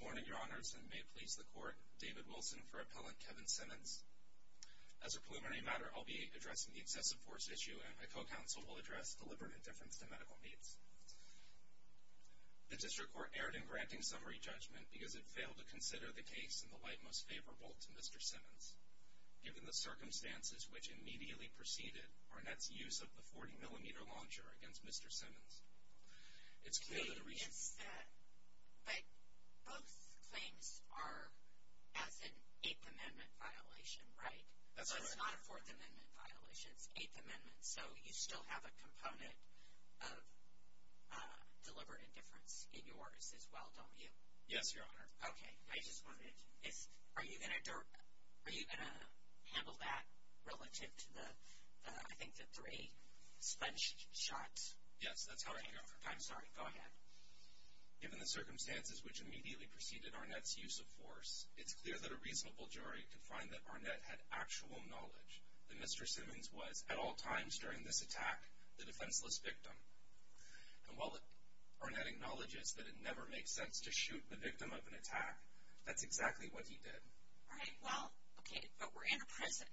Good morning, Your Honors, and may it please the Court, David Wilson for Appellant Kevin Simmons. As a preliminary matter, I'll be addressing the excessive force issue, and my co-counsel will address deliberate indifference to medical needs. The District Court erred in granting summary judgment because it failed to consider the case in the light most favorable to Mr. Simmons. Given the circumstances which immediately preceded Arnett's use of the 40mm launcher against Mr. Simmons, it's clear to the Regents that... But both claims are as an Eighth Amendment violation, right? That's correct. But it's not a Fourth Amendment violation, it's Eighth Amendment, so you still have a component of deliberate indifference in yours as well, don't you? Yes, Your Honor. Okay. I just wondered, are you going to handle that relative to the, I think, the three sledge shots? Yes, that's how I'd go. I'm sorry, go ahead. Given the circumstances which immediately preceded Arnett's use of force, it's clear that a reasonable jury could find that Arnett had actual knowledge that Mr. Simmons was, at all times during this attack, the defenseless victim. And while Arnett acknowledges that it never makes sense to shoot the victim of an attack, that's exactly what he did. All right, well, okay, but we're in a prison,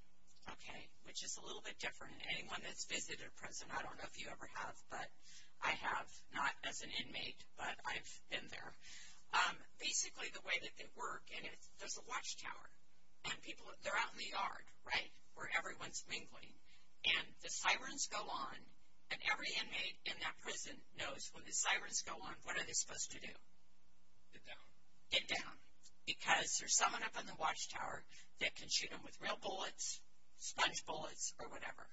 okay, which is a little bit different than anyone that's visited a prison. I don't know if you ever have, but I have, not as an inmate, but I've been there. Basically, the way that they work, and there's a watchtower, and people, they're out in the yard, right, where everyone's mingling. And the sirens go on, and every inmate in that prison knows when the sirens go on, what are they supposed to do? Get down. Get down. Because there's someone up in the watchtower that can shoot them with real bullets, sponge bullets, or whatever.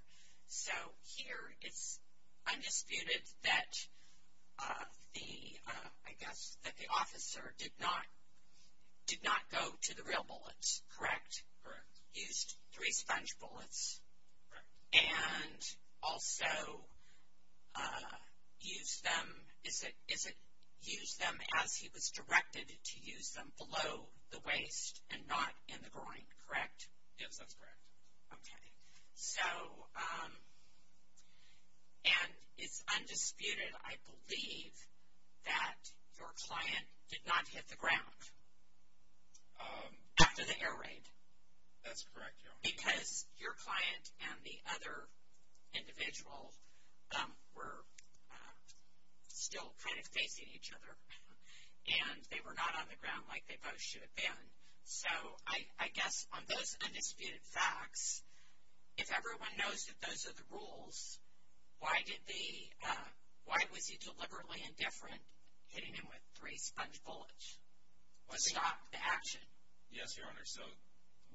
So, here, it's undisputed that the, I guess, that the officer did not go to the real bullets, correct? Correct. Used three sponge bullets. Correct. And also, used them, is it, used them as he was directed to use them below the waist and not in the groin, correct? Yes, that's correct. Okay. So, and it's undisputed, I believe, that your client did not hit the ground after the air raid. That's correct, Your Honor. Because your client and the other individual were still kind of facing each other, and they were not on the ground like they both should have been. So, I guess on those undisputed facts, if everyone knows that those are the rules, why did the, why was he deliberately indifferent hitting him with three sponge bullets to stop the action? Yes, Your Honor. So,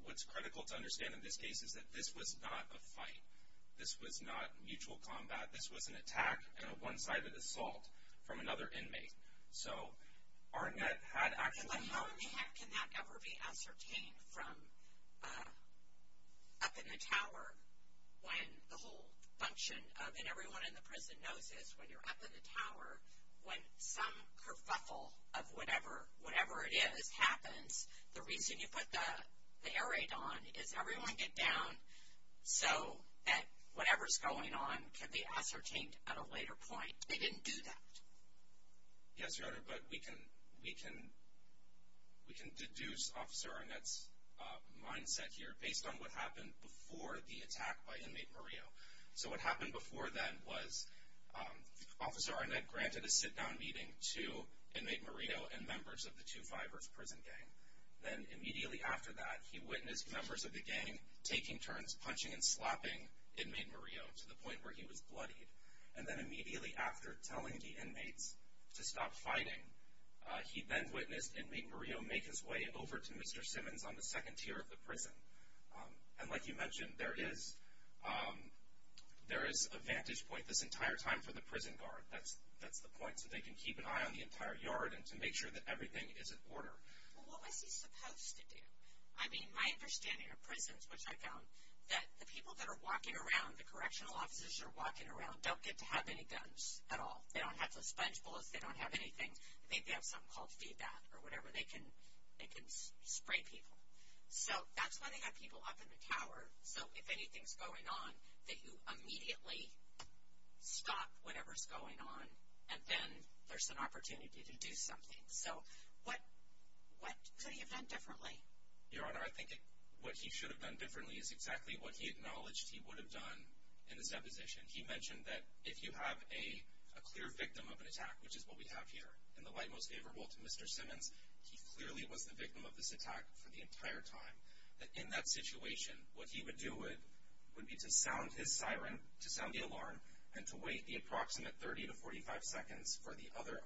what's critical to understand in this case is that this was not a fight. This was not mutual combat. This was an attack and a one-sided assault from another inmate. So, Arnett had actually... But how in the heck can that ever be ascertained from up in the tower when the whole function of, and everyone in the prison knows this, when you're up in the tower, when some kerfuffle of whatever it is happens, the reason you put the air raid on is everyone get down so that whatever's going on can be ascertained at a later point. They didn't do that. Yes, Your Honor, but we can deduce Officer Arnett's mindset here based on what happened before the attack by inmate Murillo. So, what happened before then was Officer Arnett granted a sit-down meeting to inmate Murillo and members of the Two Fibers prison gang. Then immediately after that, he witnessed members of the gang taking turns punching and slapping inmate Murillo to the point where he was bloodied. And then immediately after telling the inmates to stop fighting, he then witnessed inmate Murillo make his way over to Mr. Simmons on the second tier of the prison. And like you mentioned, there is a vantage point this entire time for the prison guard. That's the point. So, they can keep an eye on the entire yard and to make sure that everything is in order. Well, what was he supposed to do? I mean, my understanding of prisons, which I found, that the people that are walking around, the correctional officers that are walking around, don't get to have any guns at all. They don't have the sponge bullets. They don't have anything. I think they have something called feedback or whatever. They can spray people. So, that's why they have people up in the tower. So, if anything's going on, that you immediately stop whatever's going on, and then there's an opportunity to do something. So, what could he have done differently? Your Honor, I think what he should have done differently is exactly what he acknowledged he would have done in his deposition. He mentioned that if you have a clear victim of an attack, which is what we have here, in the light most favorable to Mr. Simmons, he clearly was the victim of this attack for the entire time, that in that situation what he would do would be to sound his siren, to sound the alarm, and to wait the approximate 30 to 45 seconds for the other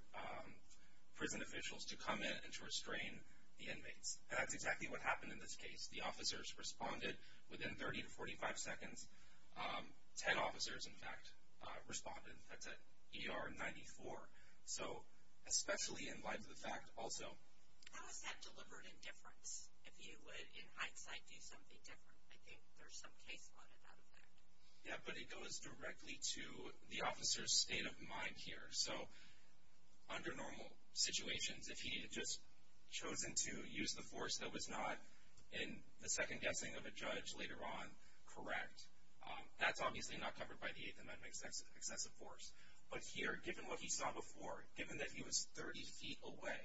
prison officials to come in and to restrain the inmates. And that's exactly what happened in this case. The officers responded within 30 to 45 seconds. Ten officers, in fact, responded. That's at ER 94. So, especially in light of the fact also. How is that deliberate indifference if you would, in hindsight, do something different? I think there's some case law to that effect. Yeah, but it goes directly to the officer's state of mind here. So, under normal situations, if he had just chosen to use the force that was not, in the second guessing of a judge later on, correct, that's obviously not covered by the Eighth Amendment, excessive force. But here, given what he saw before, given that he was 30 feet away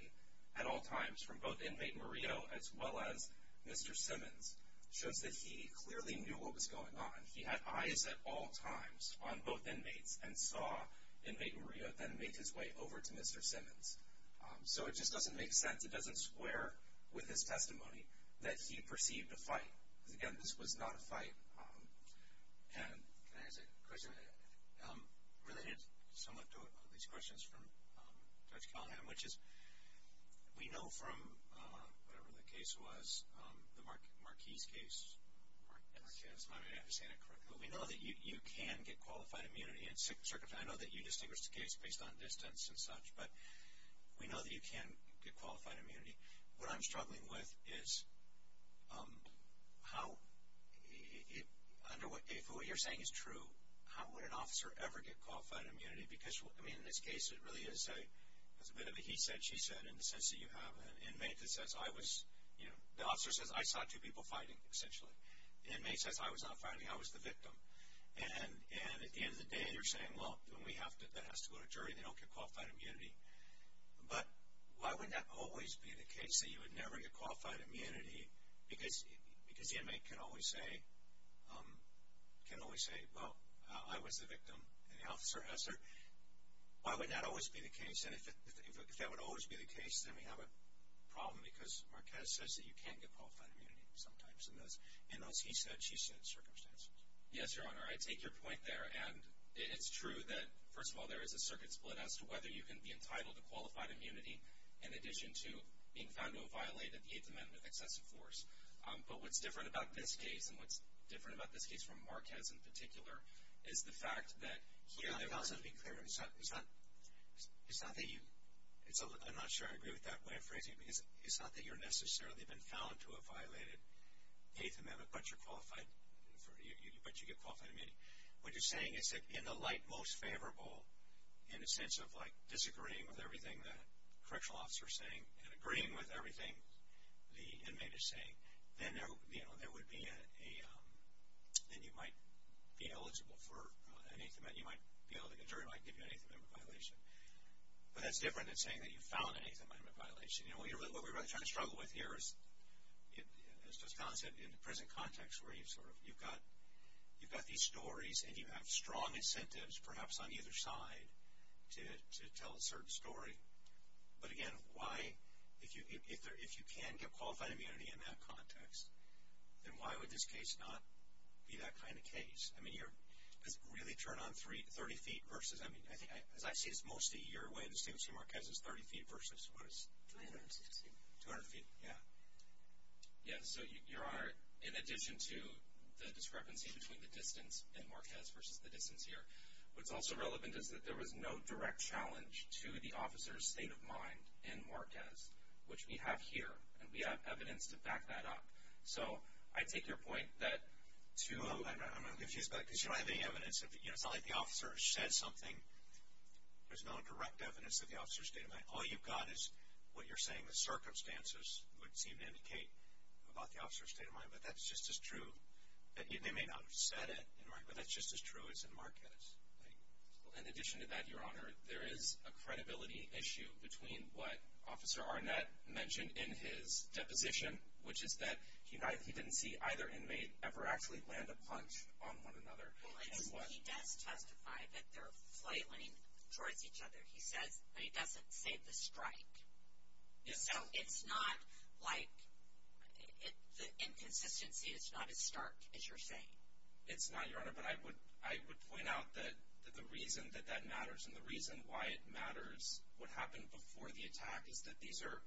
at all times from both inmate Murillo as well as Mr. Simmons, shows that he clearly knew what was going on. He had eyes at all times on both inmates and saw inmate Murillo then make his way over to Mr. Simmons. So, it just doesn't make sense. It doesn't square with his testimony that he perceived a fight. Because, again, this was not a fight. And can I ask a question related somewhat to these questions from Judge Callahan, which is we know from whatever the case was, the Marquis case. Marquis. I'm not sure if I'm saying it correctly. But we know that you can get qualified immunity. I know that you distinguished the case based on distance and such. But we know that you can get qualified immunity. What I'm struggling with is how, if what you're saying is true, how would an officer ever get qualified immunity? Because, I mean, in this case, it really is a bit of a he said, she said, in the sense that you have an inmate that says, I was, you know, the officer says, I saw two people fighting, essentially. The inmate says, I was not fighting. I was the victim. And at the end of the day, you're saying, well, that has to go to a jury. They don't get qualified immunity. But why would that always be the case that you would never get qualified immunity? Because the inmate can always say, well, I was the victim, and the officer asked her, why would that always be the case? And if that would always be the case, then we have a problem because Marquis says that you can't get qualified immunity sometimes in those he said, she said circumstances. Yes, Your Honor. I take your point there. And it's true that, first of all, there is a circuit split as to whether you can be entitled to qualified immunity in addition to being found to have violated the Eighth Amendment with excessive force. But what's different about this case, and what's different about this case from Marquis in particular, is the fact that here there are. Your Honor, let me be clear. It's not that you, I'm not sure I agree with that way of phrasing it. It's not that you're necessarily been found to have violated the Eighth Amendment, but you're qualified, but you get qualified immunity. What you're saying is that in the light most favorable, in a sense of like disagreeing with everything that the correctional officer is saying and agreeing with everything the inmate is saying, then there would be a, then you might be eligible for an Eighth Amendment, you might be eligible, the jury might give you an Eighth Amendment violation. But that's different than saying that you found an Eighth Amendment violation. You know, what we're really trying to struggle with here is, as Justice Collins said, in the present context where you've sort of, you've got these stories and you have strong incentives, perhaps on either side, to tell a certain story. But, again, why, if you can get qualified immunity in that context, then why would this case not be that kind of case? I mean, does it really turn on 30 feet versus, I mean, as I see it, it's mostly your witness, Steven C. Marquez, is 30 feet versus what is it? 200 feet. 200 feet, yeah. Yeah, so, Your Honor, in addition to the discrepancy between the distance in Marquez versus the distance here, what's also relevant is that there was no direct challenge to the officer's state of mind in Marquez, which we have here, and we have evidence to back that up. So I take your point that to a, I'm confused about it because you don't have any evidence. You know, it's not like the officer said something. There's no direct evidence of the officer's state of mind. All you've got is what you're saying the circumstances would seem to indicate about the officer's state of mind, but that's just as true. They may not have said it, but that's just as true as in Marquez. Well, in addition to that, Your Honor, there is a credibility issue between what Officer Arnett mentioned in his deposition, which is that he didn't see either inmate ever actually land a punch on one another. Well, he does testify that they're flailing towards each other. He says that he doesn't save the strike. So it's not like the inconsistency is not as stark as you're saying. It's not, Your Honor, but I would point out that the reason that that matters and the reason why it matters what happened before the attack is that these are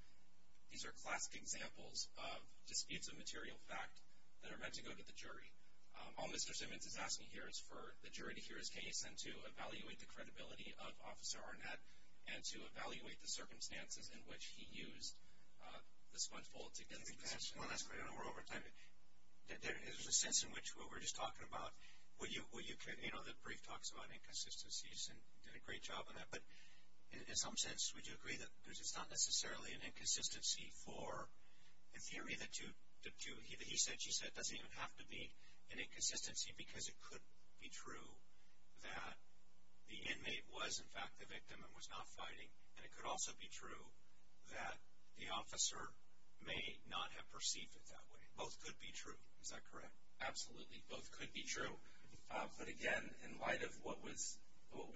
classic examples of disputes of material fact that are meant to go to the jury. All Mr. Simmons is asking here is for the jury to hear his case and to evaluate the credibility of Officer Arnett and to evaluate the circumstances in which he used the sponge bullet to get the decision. One last question. I know we're over time. There's a sense in which what we're just talking about, you know, the brief talks about inconsistencies, and you did a great job on that. But in some sense, would you agree that it's not necessarily an inconsistency for the theory that he said, as you said, doesn't even have to be an inconsistency because it could be true that the inmate was, in fact, the victim and was not fighting, and it could also be true that the officer may not have perceived it that way. Both could be true. Is that correct? Absolutely. Both could be true. But, again, in light of what was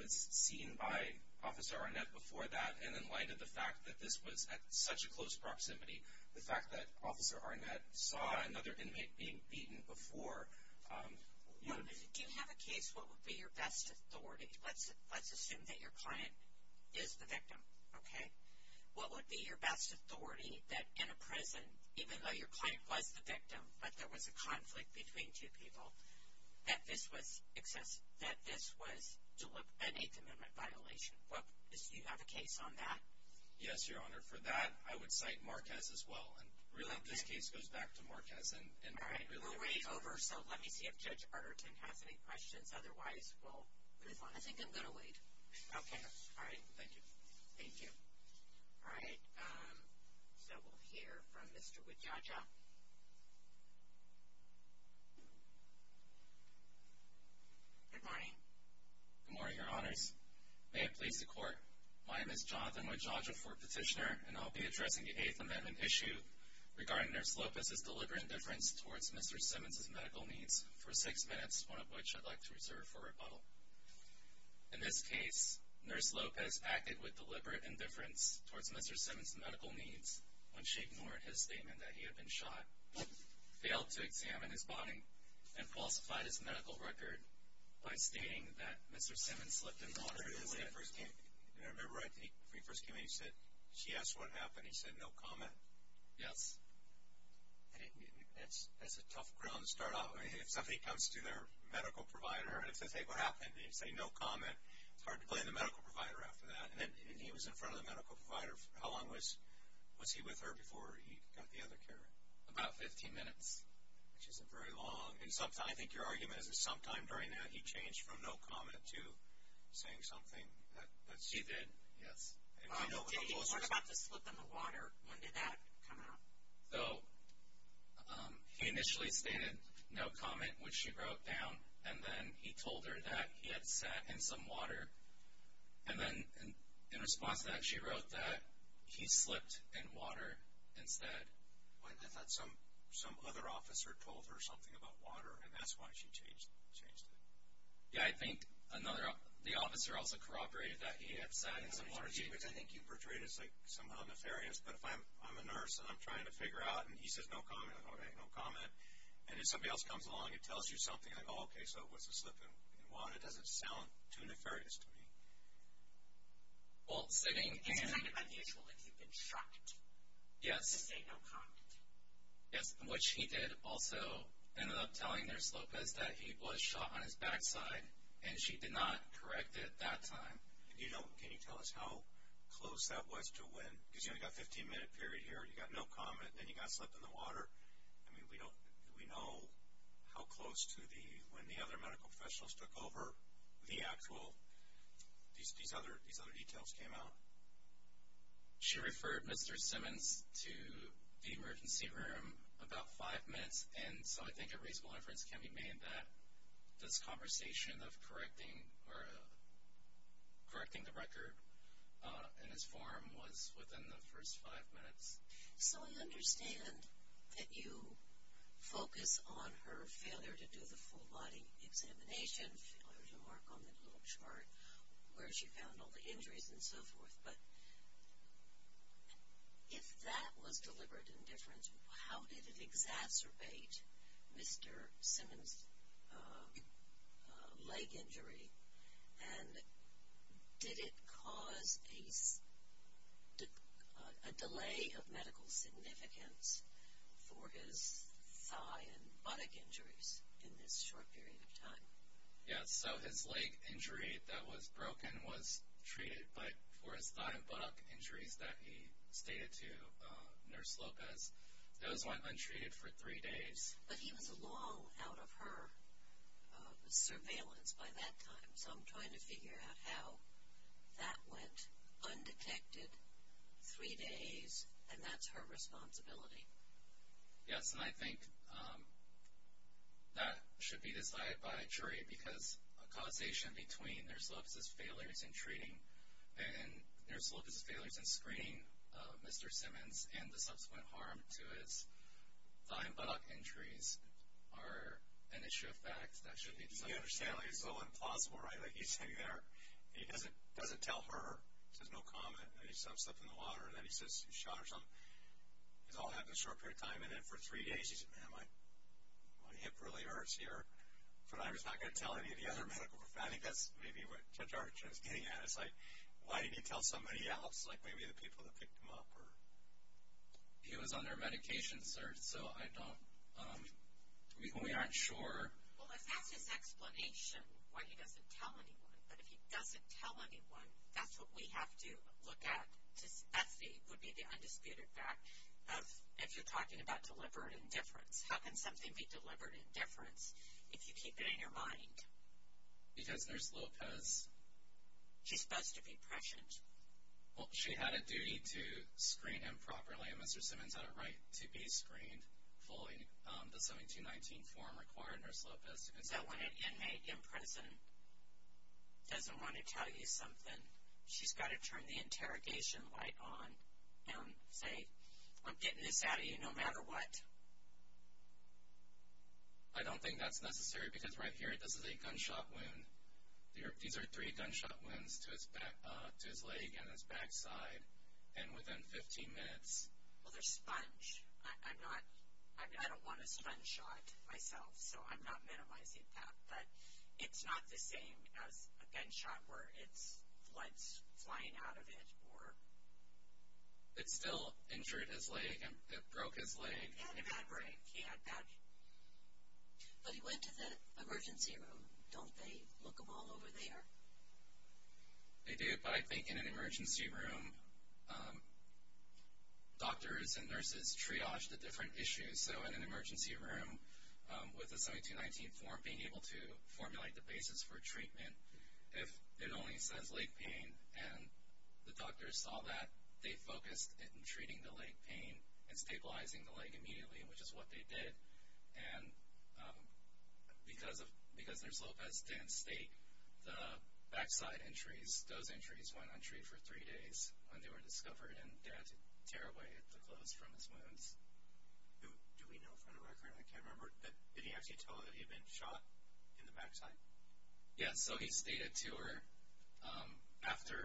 seen by Officer Arnett before that and in light of the fact that this was at such a close proximity, the fact that Officer Arnett saw another inmate being beaten before. Do you have a case, what would be your best authority? Let's assume that your client is the victim, okay? What would be your best authority that in a prison, even though your client was the victim, but there was a conflict between two people, that this was an Eighth Amendment violation? Do you have a case on that? Yes, Your Honor. For that, I would cite Marquez as well. Really, this case goes back to Marquez. All right. We'll wait over, so let me see if Judge Arterton has any questions. Otherwise, we'll move on. I think I'm going to wait. Okay. All right. Thank you. Thank you. All right. So we'll hear from Mr. Widjaja. Good morning. Good morning, Your Honors. May it please the Court, my name is Jonathan Widjaja, fourth petitioner, and I'll be addressing the Eighth Amendment issue regarding Nurse Lopez's deliberate indifference towards Mr. Simmons' medical needs for six minutes, one of which I'd like to reserve for rebuttal. In this case, Nurse Lopez acted with deliberate indifference towards Mr. Simmons' medical needs when she ignored his statement that he had been shot, failed to examine his body, and falsified his medical record by stating that Mr. Simmons slipped and fell on his head. I remember when he first came in, he said, she asked what happened, he said, no comment. Yes. That's a tough ground to start off. If somebody comes to their medical provider and says, hey, what happened? They say, no comment. It's hard to blame the medical provider after that. He was in front of the medical provider. How long was he with her before he got the other care? About 15 minutes. Which isn't very long. I think your argument is that sometime during that, he changed from no comment to saying something that's... He did. Yes. Did he talk about the slip in the water? When did that come out? So, he initially stated no comment, which she wrote down, and then he told her that he had sat in some water, and then in response to that, she wrote that he slipped in water instead. I thought some other officer told her something about water, and that's why she changed it. Yeah, I think the officer also corroborated that. He had sat in some water. I think you portrayed it as somehow nefarious, but if I'm a nurse and I'm trying to figure out, and he says no comment, okay, no comment, and then somebody else comes along and tells you something, I go, okay, so what's the slip in water? It doesn't sound too nefarious to me. Well, sitting in... He's talking about the actual, like he'd been shot. Yes. To say no comment. Yes, which he did also end up telling Nurse Lopez that he was shot on his backside, and she did not correct it at that time. Can you tell us how close that was to when... Because you only got a 15-minute period here, you got no comment, then you got slipped in the water. I mean, we know how close to when the other medical professionals took over the actual... These other details came out. She referred Mr. Simmons to the emergency room about five minutes, and so I think a reasonable inference can be made that this conversation of correcting the record in his form was within the first five minutes. So I understand that you focus on her failure to do the full-body examination, there's a mark on the little chart where she found all the injuries and so forth, but if that was deliberate indifference, how did it exacerbate Mr. Simmons' leg injury, and did it cause a delay of medical significance for his thigh and buttock injuries in this short period of time? Yes, so his leg injury that was broken was treated, but for his thigh and buttock injuries that he stated to Nurse Lopez, those went untreated for three days. But he was long out of her surveillance by that time, so I'm trying to figure out how that went undetected, three days, and that's her responsibility. Yes, and I think that should be decided by a jury, because a causation between Nurse Lopez's failures in treating and Nurse Lopez's failures in screening Mr. Simmons and the subsequent harm to his thigh and buttock injuries are an issue of fact that should be decided. You understand, like, it's a little implausible, right? Like, he's sitting there, and he doesn't tell her. He says, no comment, and then he stops up in the water, and then he says he's shot or something. It's all happened in a short period of time, and then for three days, he said, man, my hip really hurts here, but I was not going to tell any of the other medical professionals. I think that's maybe what Judge Archer was getting at. It's like, why didn't he tell somebody else, like maybe the people that picked him up? He was on their medication search, so I don't – we aren't sure. Well, if that's his explanation why he doesn't tell anyone, but if he doesn't tell anyone, that's what we have to look at. That would be the undisputed fact of if you're talking about deliberate indifference. How can something be deliberate indifference if you keep it in your mind? Because Nurse Lopez. She's supposed to be prescient. Well, she had a duty to screen him properly, and Mr. Simmons had a right to be screened fully. The 1719 form required Nurse Lopez to consult. So when an inmate in prison doesn't want to tell you something, she's got to turn the interrogation light on and say, I'm getting this out of you no matter what. I don't think that's necessary because right here, this is a gunshot wound. These are three gunshot wounds to his leg and his backside, and within 15 minutes. Well, they're sponge. I don't want a sponge shot myself, so I'm not minimizing that. But it's not the same as a gunshot where it's blood flying out of it. It still injured his leg and it broke his leg. He had a bad break. He had that. But he went to the emergency room. Don't they look them all over there? They do, but I think in an emergency room, doctors and nurses triage the different issues. So in an emergency room with a 1719 form being able to formulate the basis for treatment, if it only says leg pain and the doctors saw that, they focused in treating the leg pain and stabilizing the leg immediately, which is what they did. And because there's Lopez, they didn't state the backside injuries. Those injuries went untreated for three days when they were discovered, and they had to tear away the clothes from his wounds. Do we know for the record, I can't remember, did he actually tell that he had been shot in the backside? Yes, so he stated to her after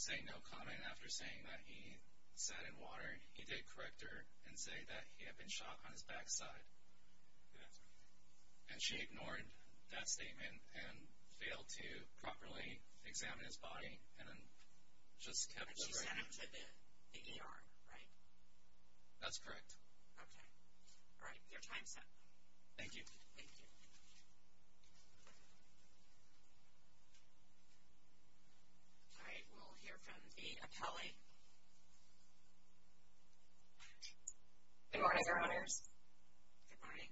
saying no comment, after saying that he sat in water, he did correct her and say that he had been shot on his backside. And she ignored that statement and failed to properly examine his body and then just kept going. And she sent him to the ER, right? That's correct. Okay. All right, your time's up. Thank you. Thank you. All right, we'll hear from the appellee. Good morning, Your Honors. Good morning.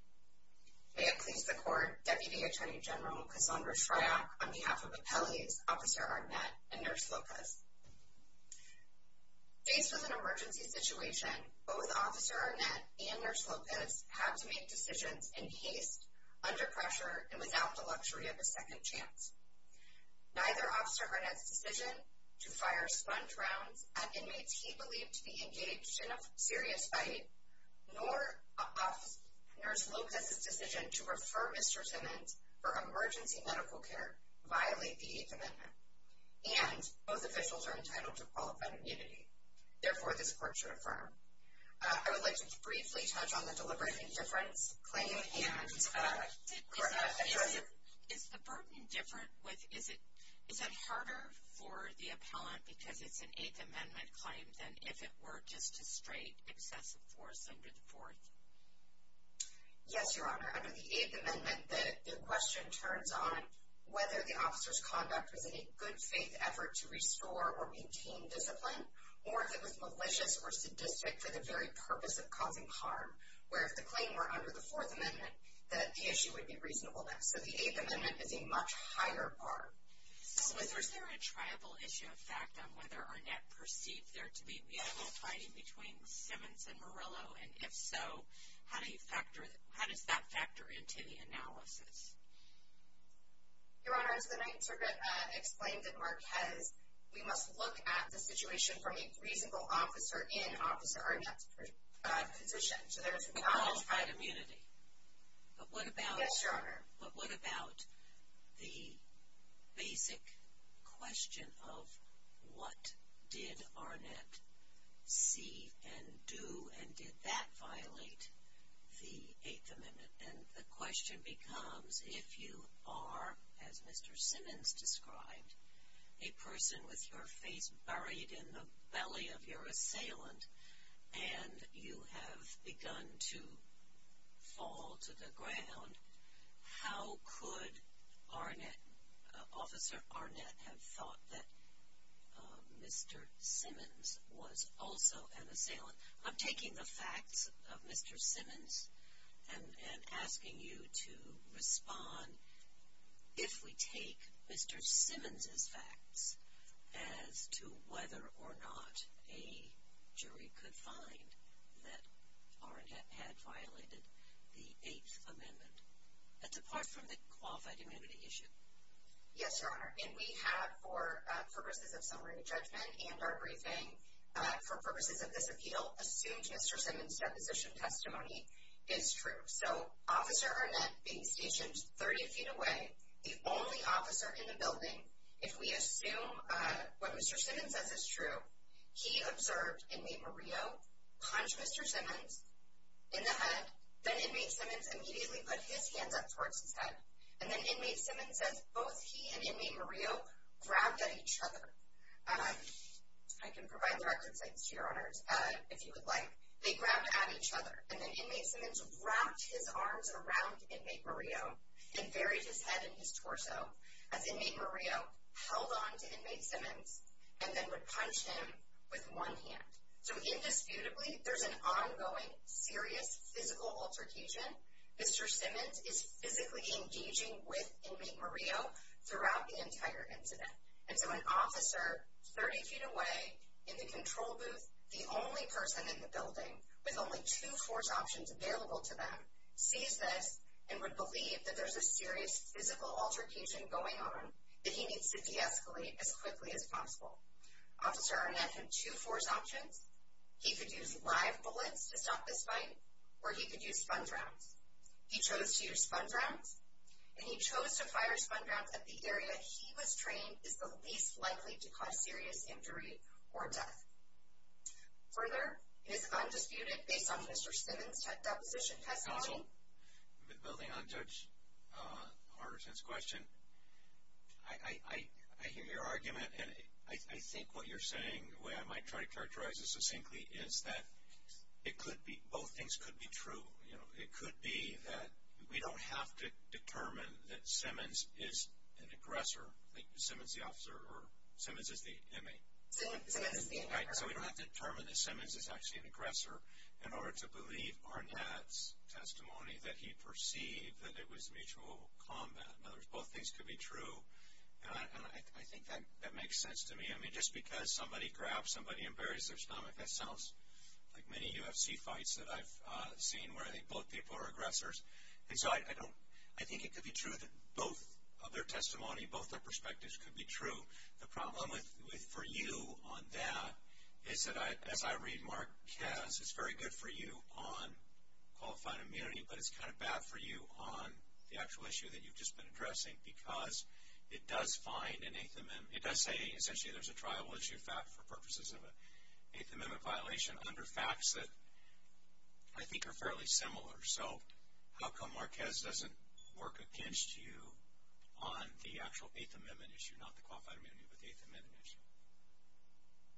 May it please the Court, Deputy Attorney General Cassandra Shryock, on behalf of appellees Officer Arnett and Nurse Lopez. Faced with an emergency situation, both Officer Arnett and Nurse Lopez have to make decisions in haste, under pressure, and without the luxury of a second chance. Neither Officer Arnett's decision to fire sponge rounds at inmates he believed to be engaged in a serious fight, nor Nurse Lopez's decision to refer Mr. Simmons for emergency medical care violate the Eighth Amendment. And both officials are entitled to qualified immunity. Therefore, this Court should affirm. I would like to briefly touch on the deliberate indifference claim. Is the burden different? Is it harder for the appellant because it's an Eighth Amendment claim than if it were just a straight excessive force under the Fourth? Yes, Your Honor. Under the Eighth Amendment, the question turns on whether the officer's conduct was in a good faith effort to restore or maintain discipline, or if it was malicious or sadistic for the very purpose of causing harm, where if the claim were under the Fourth Amendment, then the issue would be reasonable then. So the Eighth Amendment is a much higher bar. So is there a triable issue of fact on whether Arnett perceived there to be a real fight between Simmons and Murillo? And if so, how does that factor into the analysis? Your Honor, as the Ninth Circuit explained in Marquez, we must look at the situation from a reasonable officer in Officer Arnett's position. So there is a qualified immunity. But what about the basic question of what did Arnett see and do, and did that violate the Eighth Amendment? And the question becomes if you are, as Mr. Simmons described, a person with your face buried in the belly of your assailant and you have begun to fall to the ground, how could Arnett, Officer Arnett, have thought that Mr. Simmons was also an assailant? I'm taking the facts of Mr. Simmons and asking you to respond, if we take Mr. Simmons's facts, as to whether or not a jury could find that Arnett had violated the Eighth Amendment. That's apart from the qualified immunity issue. Yes, Your Honor. And we have, for purposes of summary judgment and our briefing, for purposes of this appeal, assumed Mr. Simmons's deposition testimony is true. So Officer Arnett being stationed 30 feet away, the only officer in the building, if we assume what Mr. Simmons says is true, he observed Inmate Murillo punch Mr. Simmons in the head. Then Inmate Simmons immediately put his hands up towards his head. And then Inmate Simmons says both he and Inmate Murillo grabbed at each other. I can provide the record of things to Your Honors, if you would like. They grabbed at each other. And then Inmate Simmons wrapped his arms around Inmate Murillo and buried his head in his torso, as Inmate Murillo held onto Inmate Simmons and then would punch him with one hand. So indisputably, there's an ongoing, serious physical altercation. Mr. Simmons is physically engaging with Inmate Murillo throughout the entire incident. And so an officer 30 feet away in the control booth, the only person in the building with only two force options available to them, sees this and would believe that there's a serious physical altercation going on, that he needs to deescalate as quickly as possible. Officer Arnett had two force options. He could use live bullets to stop the spike, or he could use sponge rounds. He chose to use sponge rounds. And he chose to fire sponge rounds at the area he was trained is the least likely to cause serious injury or death. Further, it is undisputed, based on Mr. Simmons' deposition testimony. Counsel, building on Judge Hardison's question, I hear your argument, and I think what you're saying, the way I might try to characterize it succinctly, is that both things could be true. It could be that we don't have to determine that Simmons is an aggressor. Simmons is the officer, or Simmons is the inmate. Simmons is the inmate. So we don't have to determine that Simmons is actually an aggressor in order to believe Arnett's testimony, that he perceived that it was mutual combat. In other words, both things could be true. And I think that makes sense to me. I mean, just because somebody grabs somebody and buries their stomach, that sounds like many UFC fights that I've seen where I think both people are aggressors. And so I think it could be true that both of their testimony, both their perspectives could be true. The problem for you on that is that, as I read Mark Kaz, it's very good for you on qualified immunity, but it's kind of bad for you on the actual issue that you've just been addressing, because it does say essentially there's a triable issue for purposes of an Eighth Amendment violation under facts that I think are fairly similar. So how come Mark Kaz doesn't work against you on the actual Eighth Amendment issue, not the qualified immunity, but the Eighth Amendment issue?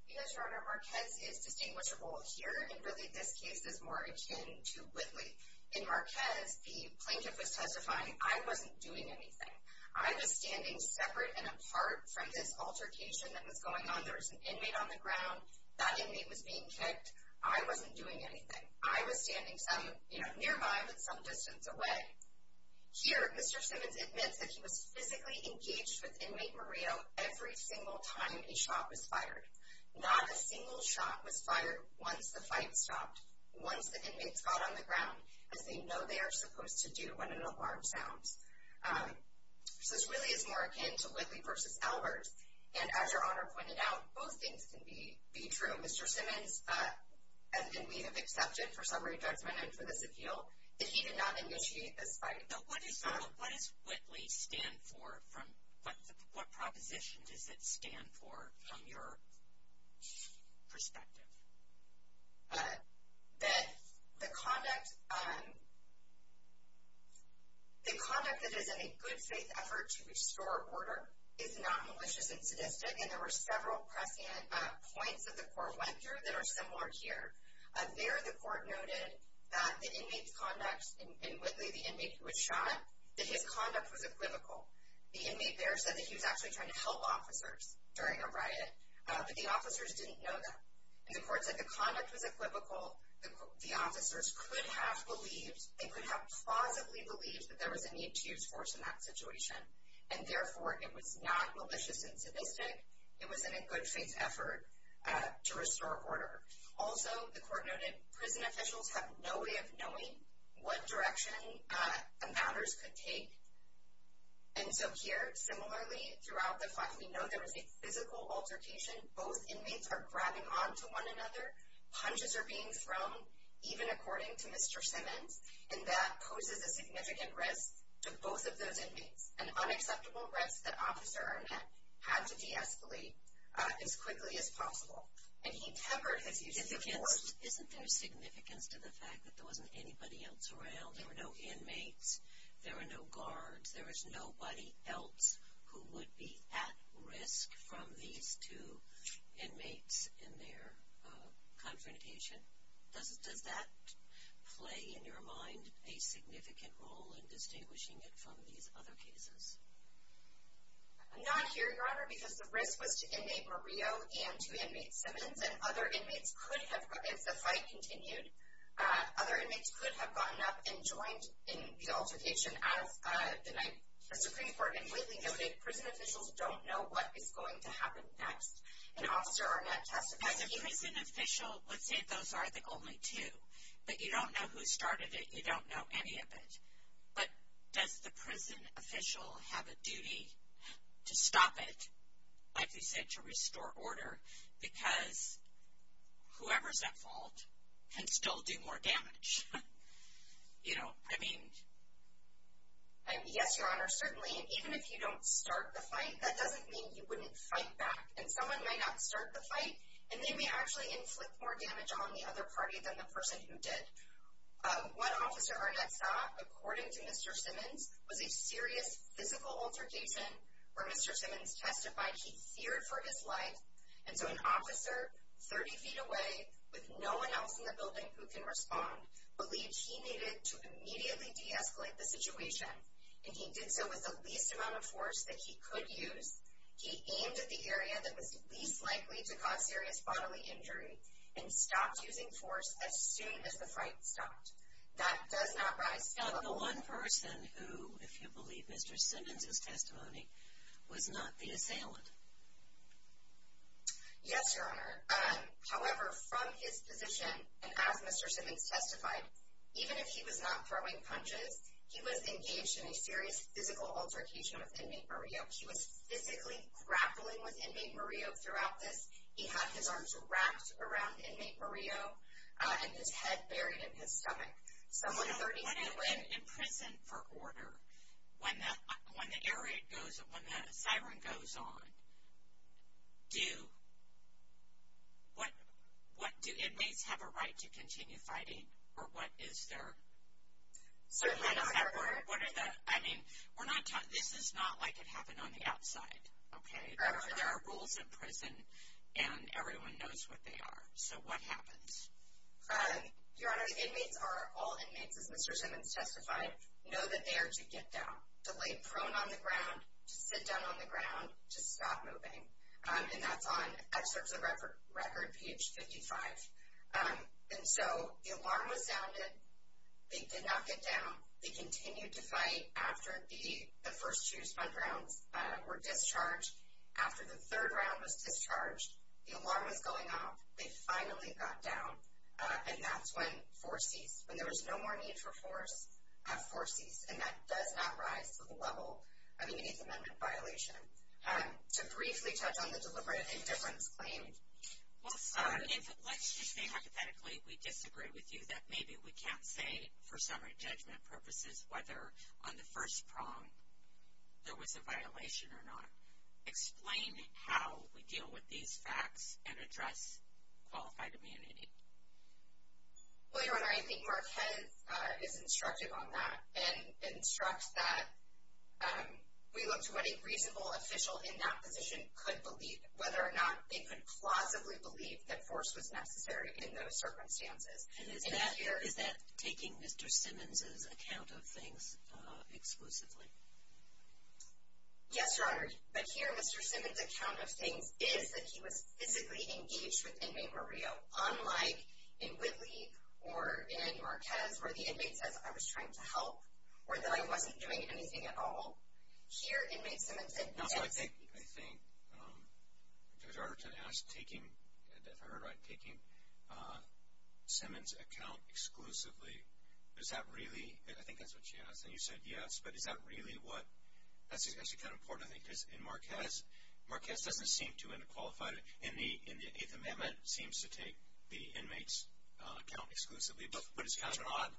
Because, Your Honor, Mark Kaz is distinguishable here, and really this case is more akin to Whitley. In Mark Kaz, the plaintiff was testifying, I wasn't doing anything. I was standing separate and apart from this altercation that was going on. There was an inmate on the ground. That inmate was being kicked. I wasn't doing anything. I was standing some, you know, nearby but some distance away. Here, Mr. Simmons admits that he was physically engaged with inmate Murillo every single time a shot was fired. Not a single shot was fired once the fight stopped, once the inmates got on the ground, as they know they are supposed to do when an alarm sounds. So this really is more akin to Whitley v. Albert, and as Your Honor pointed out, both things can be true. Mr. Simmons, as can be accepted for summary judgment and for this appeal, that he did not initiate this fight. Now, what does Whitley stand for? What proposition does it stand for from your perspective? That the conduct that is in a good faith effort to restore order is not malicious and sadistic, and there were several prescient points that the court went through that are similar here. There, the court noted that the inmate's conduct in Whitley, the inmate who was shot, that his conduct was equivocal. The inmate there said that he was actually trying to help officers during a riot, but the officers didn't know that. And the court said the conduct was equivocal, the officers could have believed, they could have plausibly believed that there was a need to use force in that situation, and therefore it was not malicious and sadistic, it was in a good faith effort to restore order. Also, the court noted prison officials have no way of knowing what direction matters could take. And so here, similarly, throughout the fight, we know there was a physical altercation. Both inmates are grabbing onto one another, punches are being thrown, even according to Mr. Simmons, and that poses a significant risk to both of those inmates. An unacceptable risk that Officer Arnett had to deescalate as quickly as possible. And he tempered his use of force. Isn't there significance to the fact that there wasn't anybody else around? There were no inmates, there were no guards, there was nobody else who would be at risk from these two inmates in their confrontation? Does that play, in your mind, a significant role in distinguishing it from these other cases? Not here, Your Honor, because the risk was to inmate Murillo and to inmate Simmons, and other inmates could have, if the fight continued, other inmates could have gotten up and joined in the altercation. As the Supreme Court completely noted, prison officials don't know what is going to happen next. As a prison official, let's say those are the only two. But you don't know who started it, you don't know any of it. But does the prison official have a duty to stop it, like you said, to restore order? Because whoever's at fault can still do more damage. You know, I mean. Yes, Your Honor, certainly. And even if you don't start the fight, that doesn't mean you wouldn't fight back. And someone might not start the fight, and they may actually inflict more damage on the other party than the person who did. One officer Arnett saw, according to Mr. Simmons, was a serious physical altercation where Mr. Simmons testified he feared for his life. And so an officer, 30 feet away, with no one else in the building who can respond, believed he needed to immediately de-escalate the situation. And he did so with the least amount of force that he could use. He aimed at the area that was least likely to cause serious bodily injury and stopped using force as soon as the fight stopped. That does not rise to the level. Now the one person who, if you believe Mr. Simmons' testimony, was not the assailant. Yes, Your Honor. However, from his position, and as Mr. Simmons testified, even if he was not throwing punches, he was engaged in a serious physical altercation with inmate Murillo. He was physically grappling with inmate Murillo throughout this. He had his arms wrapped around inmate Murillo and his head buried in his stomach. In prison for order, when the siren goes on, do inmates have a right to continue fighting? Or what is their... Certainly not in order. I mean, this is not like it happened on the outside, okay? There are rules in prison, and everyone knows what they are. So what happens? Your Honor, inmates are, all inmates, as Mr. Simmons testified, know that they are to get down, to lay prone on the ground, to sit down on the ground, to stop moving. And that's on Excerpts of Record, page 55. And so the alarm was sounded. They did not get down. They continued to fight after the first two sponge rounds were discharged. After the third round was discharged, the alarm was going off. They finally got down. And that's when force ceased. When there was no more need for force, force ceased. And that does not rise to the level of an Eighth Amendment violation. To briefly touch on the deliberate indifference claim. Let's just say, hypothetically, we disagree with you, that maybe we can't say, for summary judgment purposes, whether on the first prong there was a violation or not. Explain how we deal with these facts and address qualified immunity. Well, Your Honor, I think Mark Head is instructive on that and instructs that we look to what a reasonable official in that position could believe, whether or not they could plausibly believe that force was necessary in those circumstances. And is that taking Mr. Simmons' account of things exclusively? Yes, Your Honor. But here Mr. Simmons' account of things is that he was physically engaged with inmate Murillo, unlike in Whitley or in Marquez where the inmate says, I was trying to help or that I wasn't doing anything at all. Your Honor, I think Judge Arderton asked, if I heard right, taking Simmons' account exclusively. Is that really, I think that's what she asked, and you said yes, but is that really what, that's kind of important, I think, because in Marquez, Marquez doesn't seem to have qualified, and the Eighth Amendment seems to take the inmate's account exclusively. But it's kind of odd,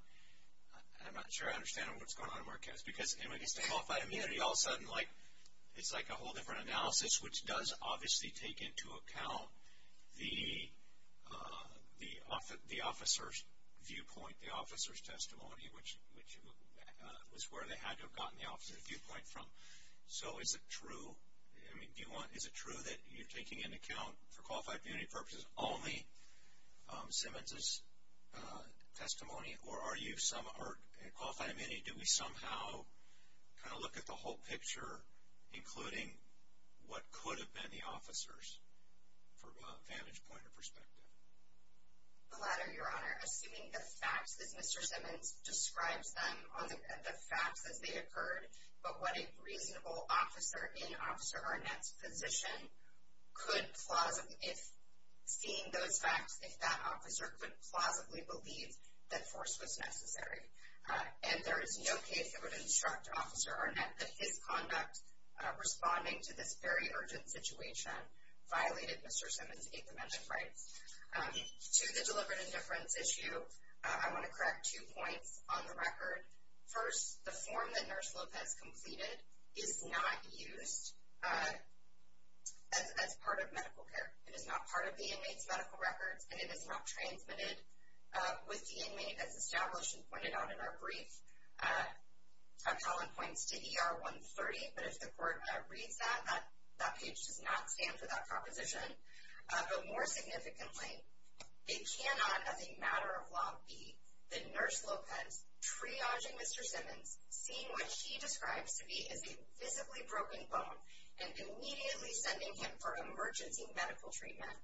I'm not sure I understand what's going on in Marquez, because inmate gets the qualified immunity, all of a sudden it's like a whole different analysis, which does obviously take into account the officer's viewpoint, the officer's testimony, which was where they had to have gotten the officer's viewpoint from. So is it true, I mean, do you want, is it true that you're taking into account for qualified immunity purposes only Simmons' testimony, or are you some, or qualified immunity, do we somehow kind of look at the whole picture, including what could have been the officer's vantage point or perspective? The latter, Your Honor. Assuming the facts, as Mr. Simmons describes them, the facts as they occurred, but what a reasonable officer in Officer Arnett's position could plausibly, if seeing those facts, if that officer could plausibly believe that force was necessary. And there is no case that would instruct Officer Arnett that his conduct, responding to this very urgent situation, violated Mr. Simmons' Eighth Amendment rights. To the deliberate indifference issue, I want to correct two points on the record. First, the form that Nurse Lopez completed is not used as part of medical care. It is not part of the inmate's medical records, and it is not transmitted with the inmate as established and pointed out in our brief. Colin points to ER 130, but if the court reads that, that page does not stand for that proposition. But more significantly, it cannot as a matter of law be that Nurse Lopez triaging Mr. Simmons, seeing what she describes to be as a visibly broken bone, and immediately sending him for emergency medical treatment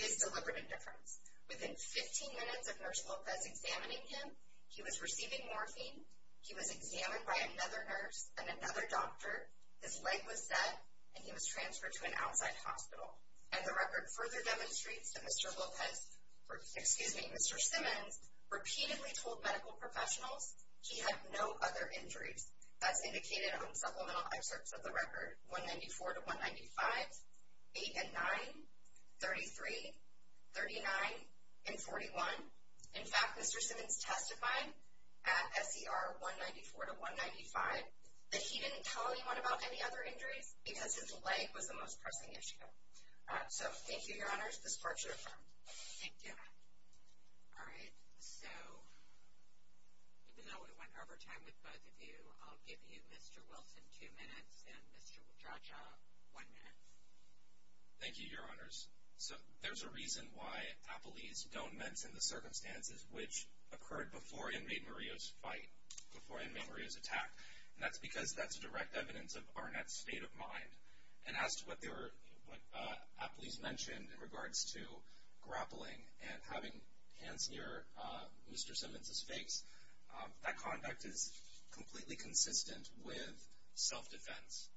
is deliberate indifference. Within 15 minutes of Nurse Lopez examining him, he was receiving morphine, he was examined by another nurse and another doctor, his leg was set, and he was transferred to an outside hospital. And the record further demonstrates that Mr. Lopez, or excuse me, Mr. Simmons, repeatedly told medical professionals he had no other injuries, as indicated on supplemental excerpts of the record 194 to 195, 8 and 9, 33, 39, and 41. In fact, Mr. Simmons testified at SER 194 to 195 that he didn't tell anyone about any other injuries, because his leg was the most pressing issue. So thank you, Your Honors, this court is adjourned. Thank you. All right, so even though we went over time with both of you, I'll give you, Mr. Wilson, two minutes and Mr. Wodracha, one minute. Thank you, Your Honors. So there's a reason why appellees don't mention the circumstances which occurred before inmate Murillo's fight, before inmate Murillo's attack, and that's because that's direct evidence of Barnett's state of mind. And as to what appellees mentioned in regards to grappling and having hands near Mr. Simmons's face, that conduct is completely consistent with self-defense,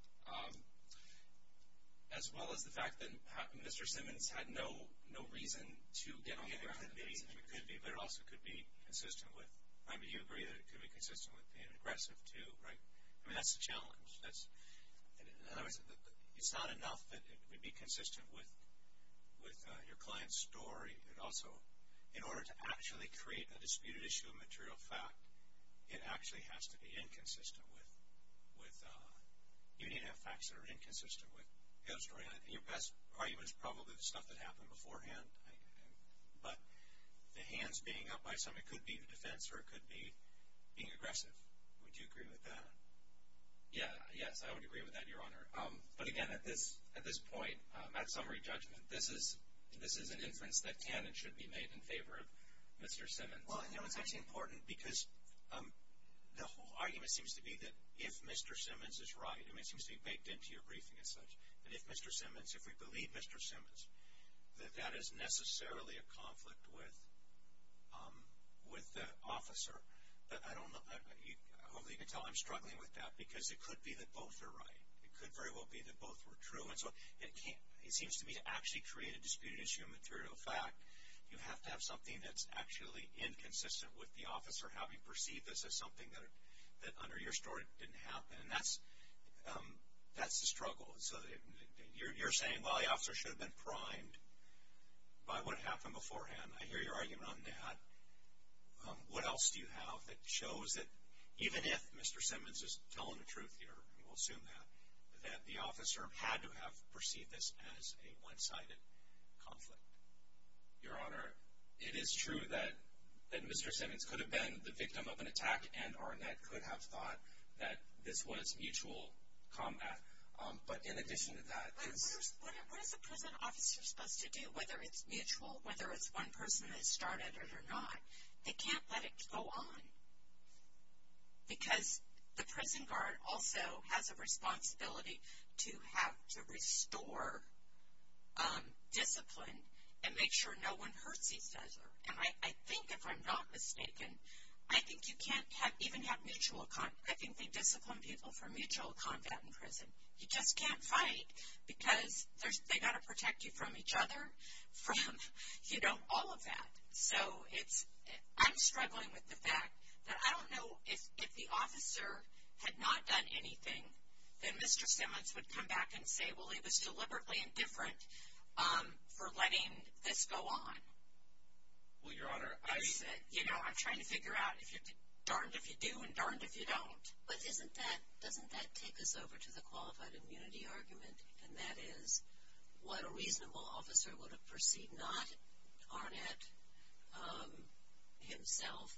as well as the fact that Mr. Simmons had no reason to get on the ground. It could be, but it also could be consistent with, I mean, you agree that it could be consistent with being aggressive, too, right? I mean, that's the challenge. In other words, it's not enough that it would be consistent with your client's story. It also, in order to actually create a disputed issue of material fact, it actually has to be inconsistent with, you need to have facts that are inconsistent with the other story. And your best argument is probably the stuff that happened beforehand, but the hands being up by somebody could be the defense or it could be being aggressive. Would you agree with that? Yeah, yes, I would agree with that, Your Honor. But, again, at this point, at summary judgment, this is an inference that can and should be made in favor of Mr. Simmons. Well, I know it's actually important because the whole argument seems to be that if Mr. Simmons is right, I mean, it seems to be baked into your briefing as such, that if Mr. Simmons, if we believe Mr. Simmons, that that is necessarily a conflict with the officer. But I don't know, hopefully you can tell I'm struggling with that because it could be that both are right. It could very well be that both were true. And so it seems to me to actually create a disputed issue of material fact, you have to have something that's actually inconsistent with the officer having perceived this as something that under your story didn't happen. And that's the struggle. So you're saying, well, the officer should have been primed by what happened beforehand. I hear your argument on that. What else do you have that shows that even if Mr. Simmons is telling the truth here, and we'll assume that, that the officer had to have perceived this as a one-sided conflict? Your Honor, it is true that Mr. Simmons could have been the victim of an attack and Arnett could have thought that this was mutual combat. But in addition to that. What is a prison officer supposed to do, whether it's mutual, whether it's one person that started it or not? They can't let it go on. Because the prison guard also has a responsibility to have to restore discipline and make sure no one hurts each other. And I think, if I'm not mistaken, I think you can't even have mutual, I think they discipline people for mutual combat in prison. You just can't fight because they've got to protect you from each other, from, you know, all of that. So it's, I'm struggling with the fact that I don't know if the officer had not done anything, then Mr. Simmons would come back and say, well, he was deliberately indifferent for letting this go on. Well, Your Honor. You know, I'm trying to figure out if you're darned if you do and darned if you don't. But isn't that, doesn't that take us over to the qualified immunity argument, and that is what a reasonable officer would have perceived, not Arnett himself,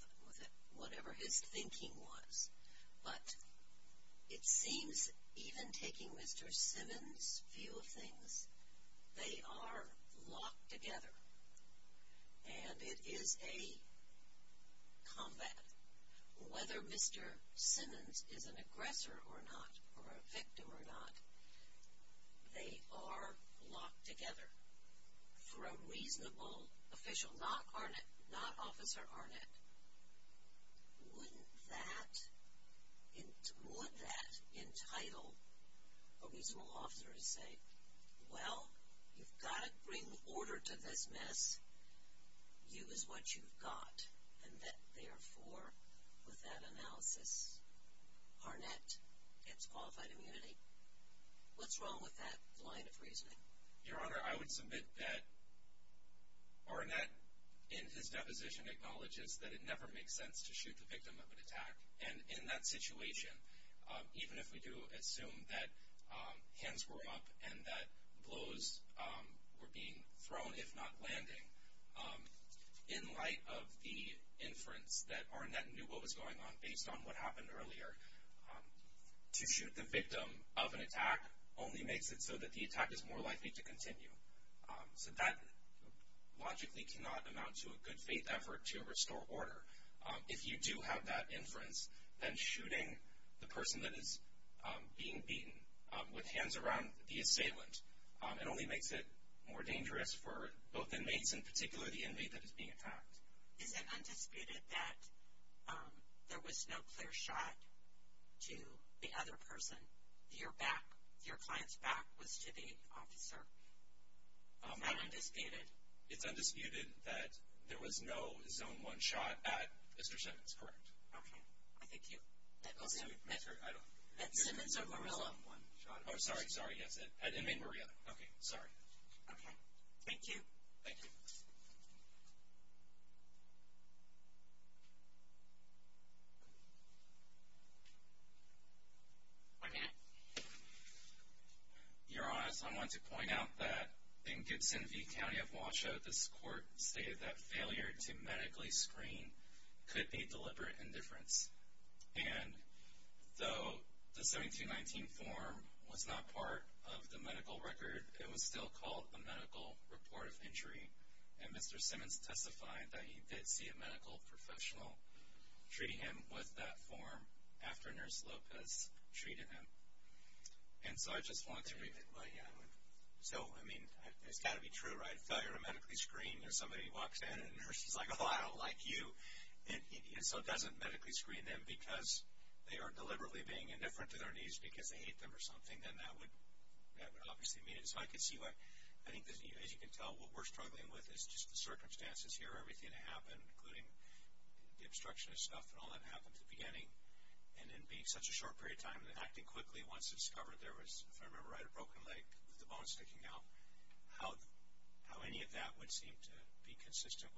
whatever his thinking was. But it seems, even taking Mr. Simmons' view of things, they are locked together. And it is a combat, whether Mr. Simmons is an aggressor or not, or a victim or not, they are locked together for a reasonable official, not Arnett, not Officer Arnett. Wouldn't that, would that entitle a reasonable officer to say, well, you've got to bring order to this mess. You is what you've got. And that, therefore, with that analysis, Arnett gets qualified immunity. What's wrong with that line of reasoning? Your Honor, I would submit that Arnett, in his deposition, acknowledges that it never makes sense to shoot the victim of an attack. And in that situation, even if we do assume that hands were up and that blows were being thrown, if not landing, in light of the inference that Arnett knew what was going on based on what happened earlier, to shoot the victim of an attack only makes it so that the attack is more likely to continue. So that logically cannot amount to a good faith effort to restore order. If you do have that inference, then shooting the person that is being beaten with hands around the assailant, it only makes it more dangerous for both inmates, in particular the inmate that is being attacked. Is it undisputed that there was no clear shot to the other person? Your back, your client's back was to the officer. Is that undisputed? It's undisputed that there was no zone one shot at Mr. Simmons, correct. Okay. Thank you. At Simmons or Murillo? Oh, sorry, sorry, yes, at inmate Murillo. Okay, sorry. Okay. Thank you. Thank you. You're honest. I want to point out that in Gibson v. County of Washoe, this court stated that failure to medically screen could be deliberate indifference. And though the 1719 form was not part of the medical record, it was still called a medical report of injury. And Mr. Simmons testified that he did see a medical professional treating him with that form after Nurse Lopez treated him. And so I just wanted to make that point. So, I mean, it's got to be true, right? Failure to medically screen, you know, somebody walks in and the nurse is like, oh, I don't like you. And so it doesn't medically screen them because they are deliberately being indifferent to their needs because they hate them or something. And then that would obviously mean it. So I can see why. I think, as you can tell, what we're struggling with is just the circumstances here, everything that happened, including the obstruction of stuff and all that happened at the beginning. And in being such a short period of time and acting quickly, once it was discovered there was, if I remember right, a broken leg with the bone sticking out, how any of that would seem to be consistent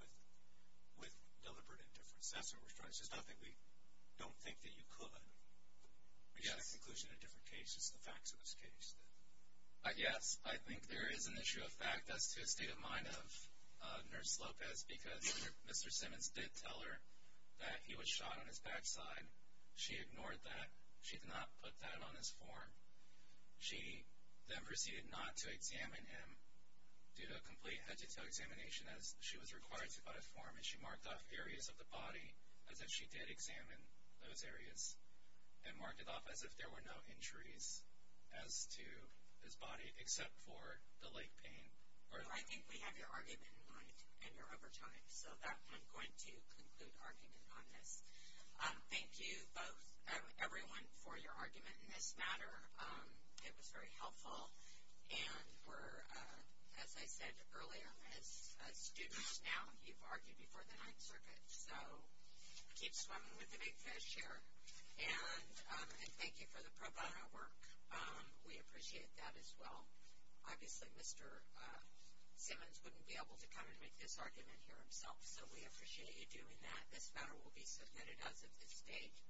with deliberate indifference. That's what we're struggling with. This is nothing we don't think that you could. Is that a conclusion to different cases, the facts of this case? Yes, I think there is an issue of fact as to a state of mind of Nurse Lopez because Mr. Simmons did tell her that he was shot on his backside. She ignored that. She did not put that on his form. She then proceeded not to examine him due to a complete head-to-toe examination, as she was required to put a form, and she marked off areas of the body as if she did examine those areas and marked it off as if there were no injuries as to his body except for the leg pain. Well, I think we have your argument in mind, and you're over time. So I'm going to conclude argument on this. Thank you, everyone, for your argument in this matter. It was very helpful. And we're, as I said earlier, as students now, you've argued before the Ninth Circuit, so keep swimming with the big fish here. And thank you for the pro bono work. We appreciate that as well. Obviously, Mr. Simmons wouldn't be able to come and make this argument here himself, so we appreciate you doing that. This matter will be submitted as of this date.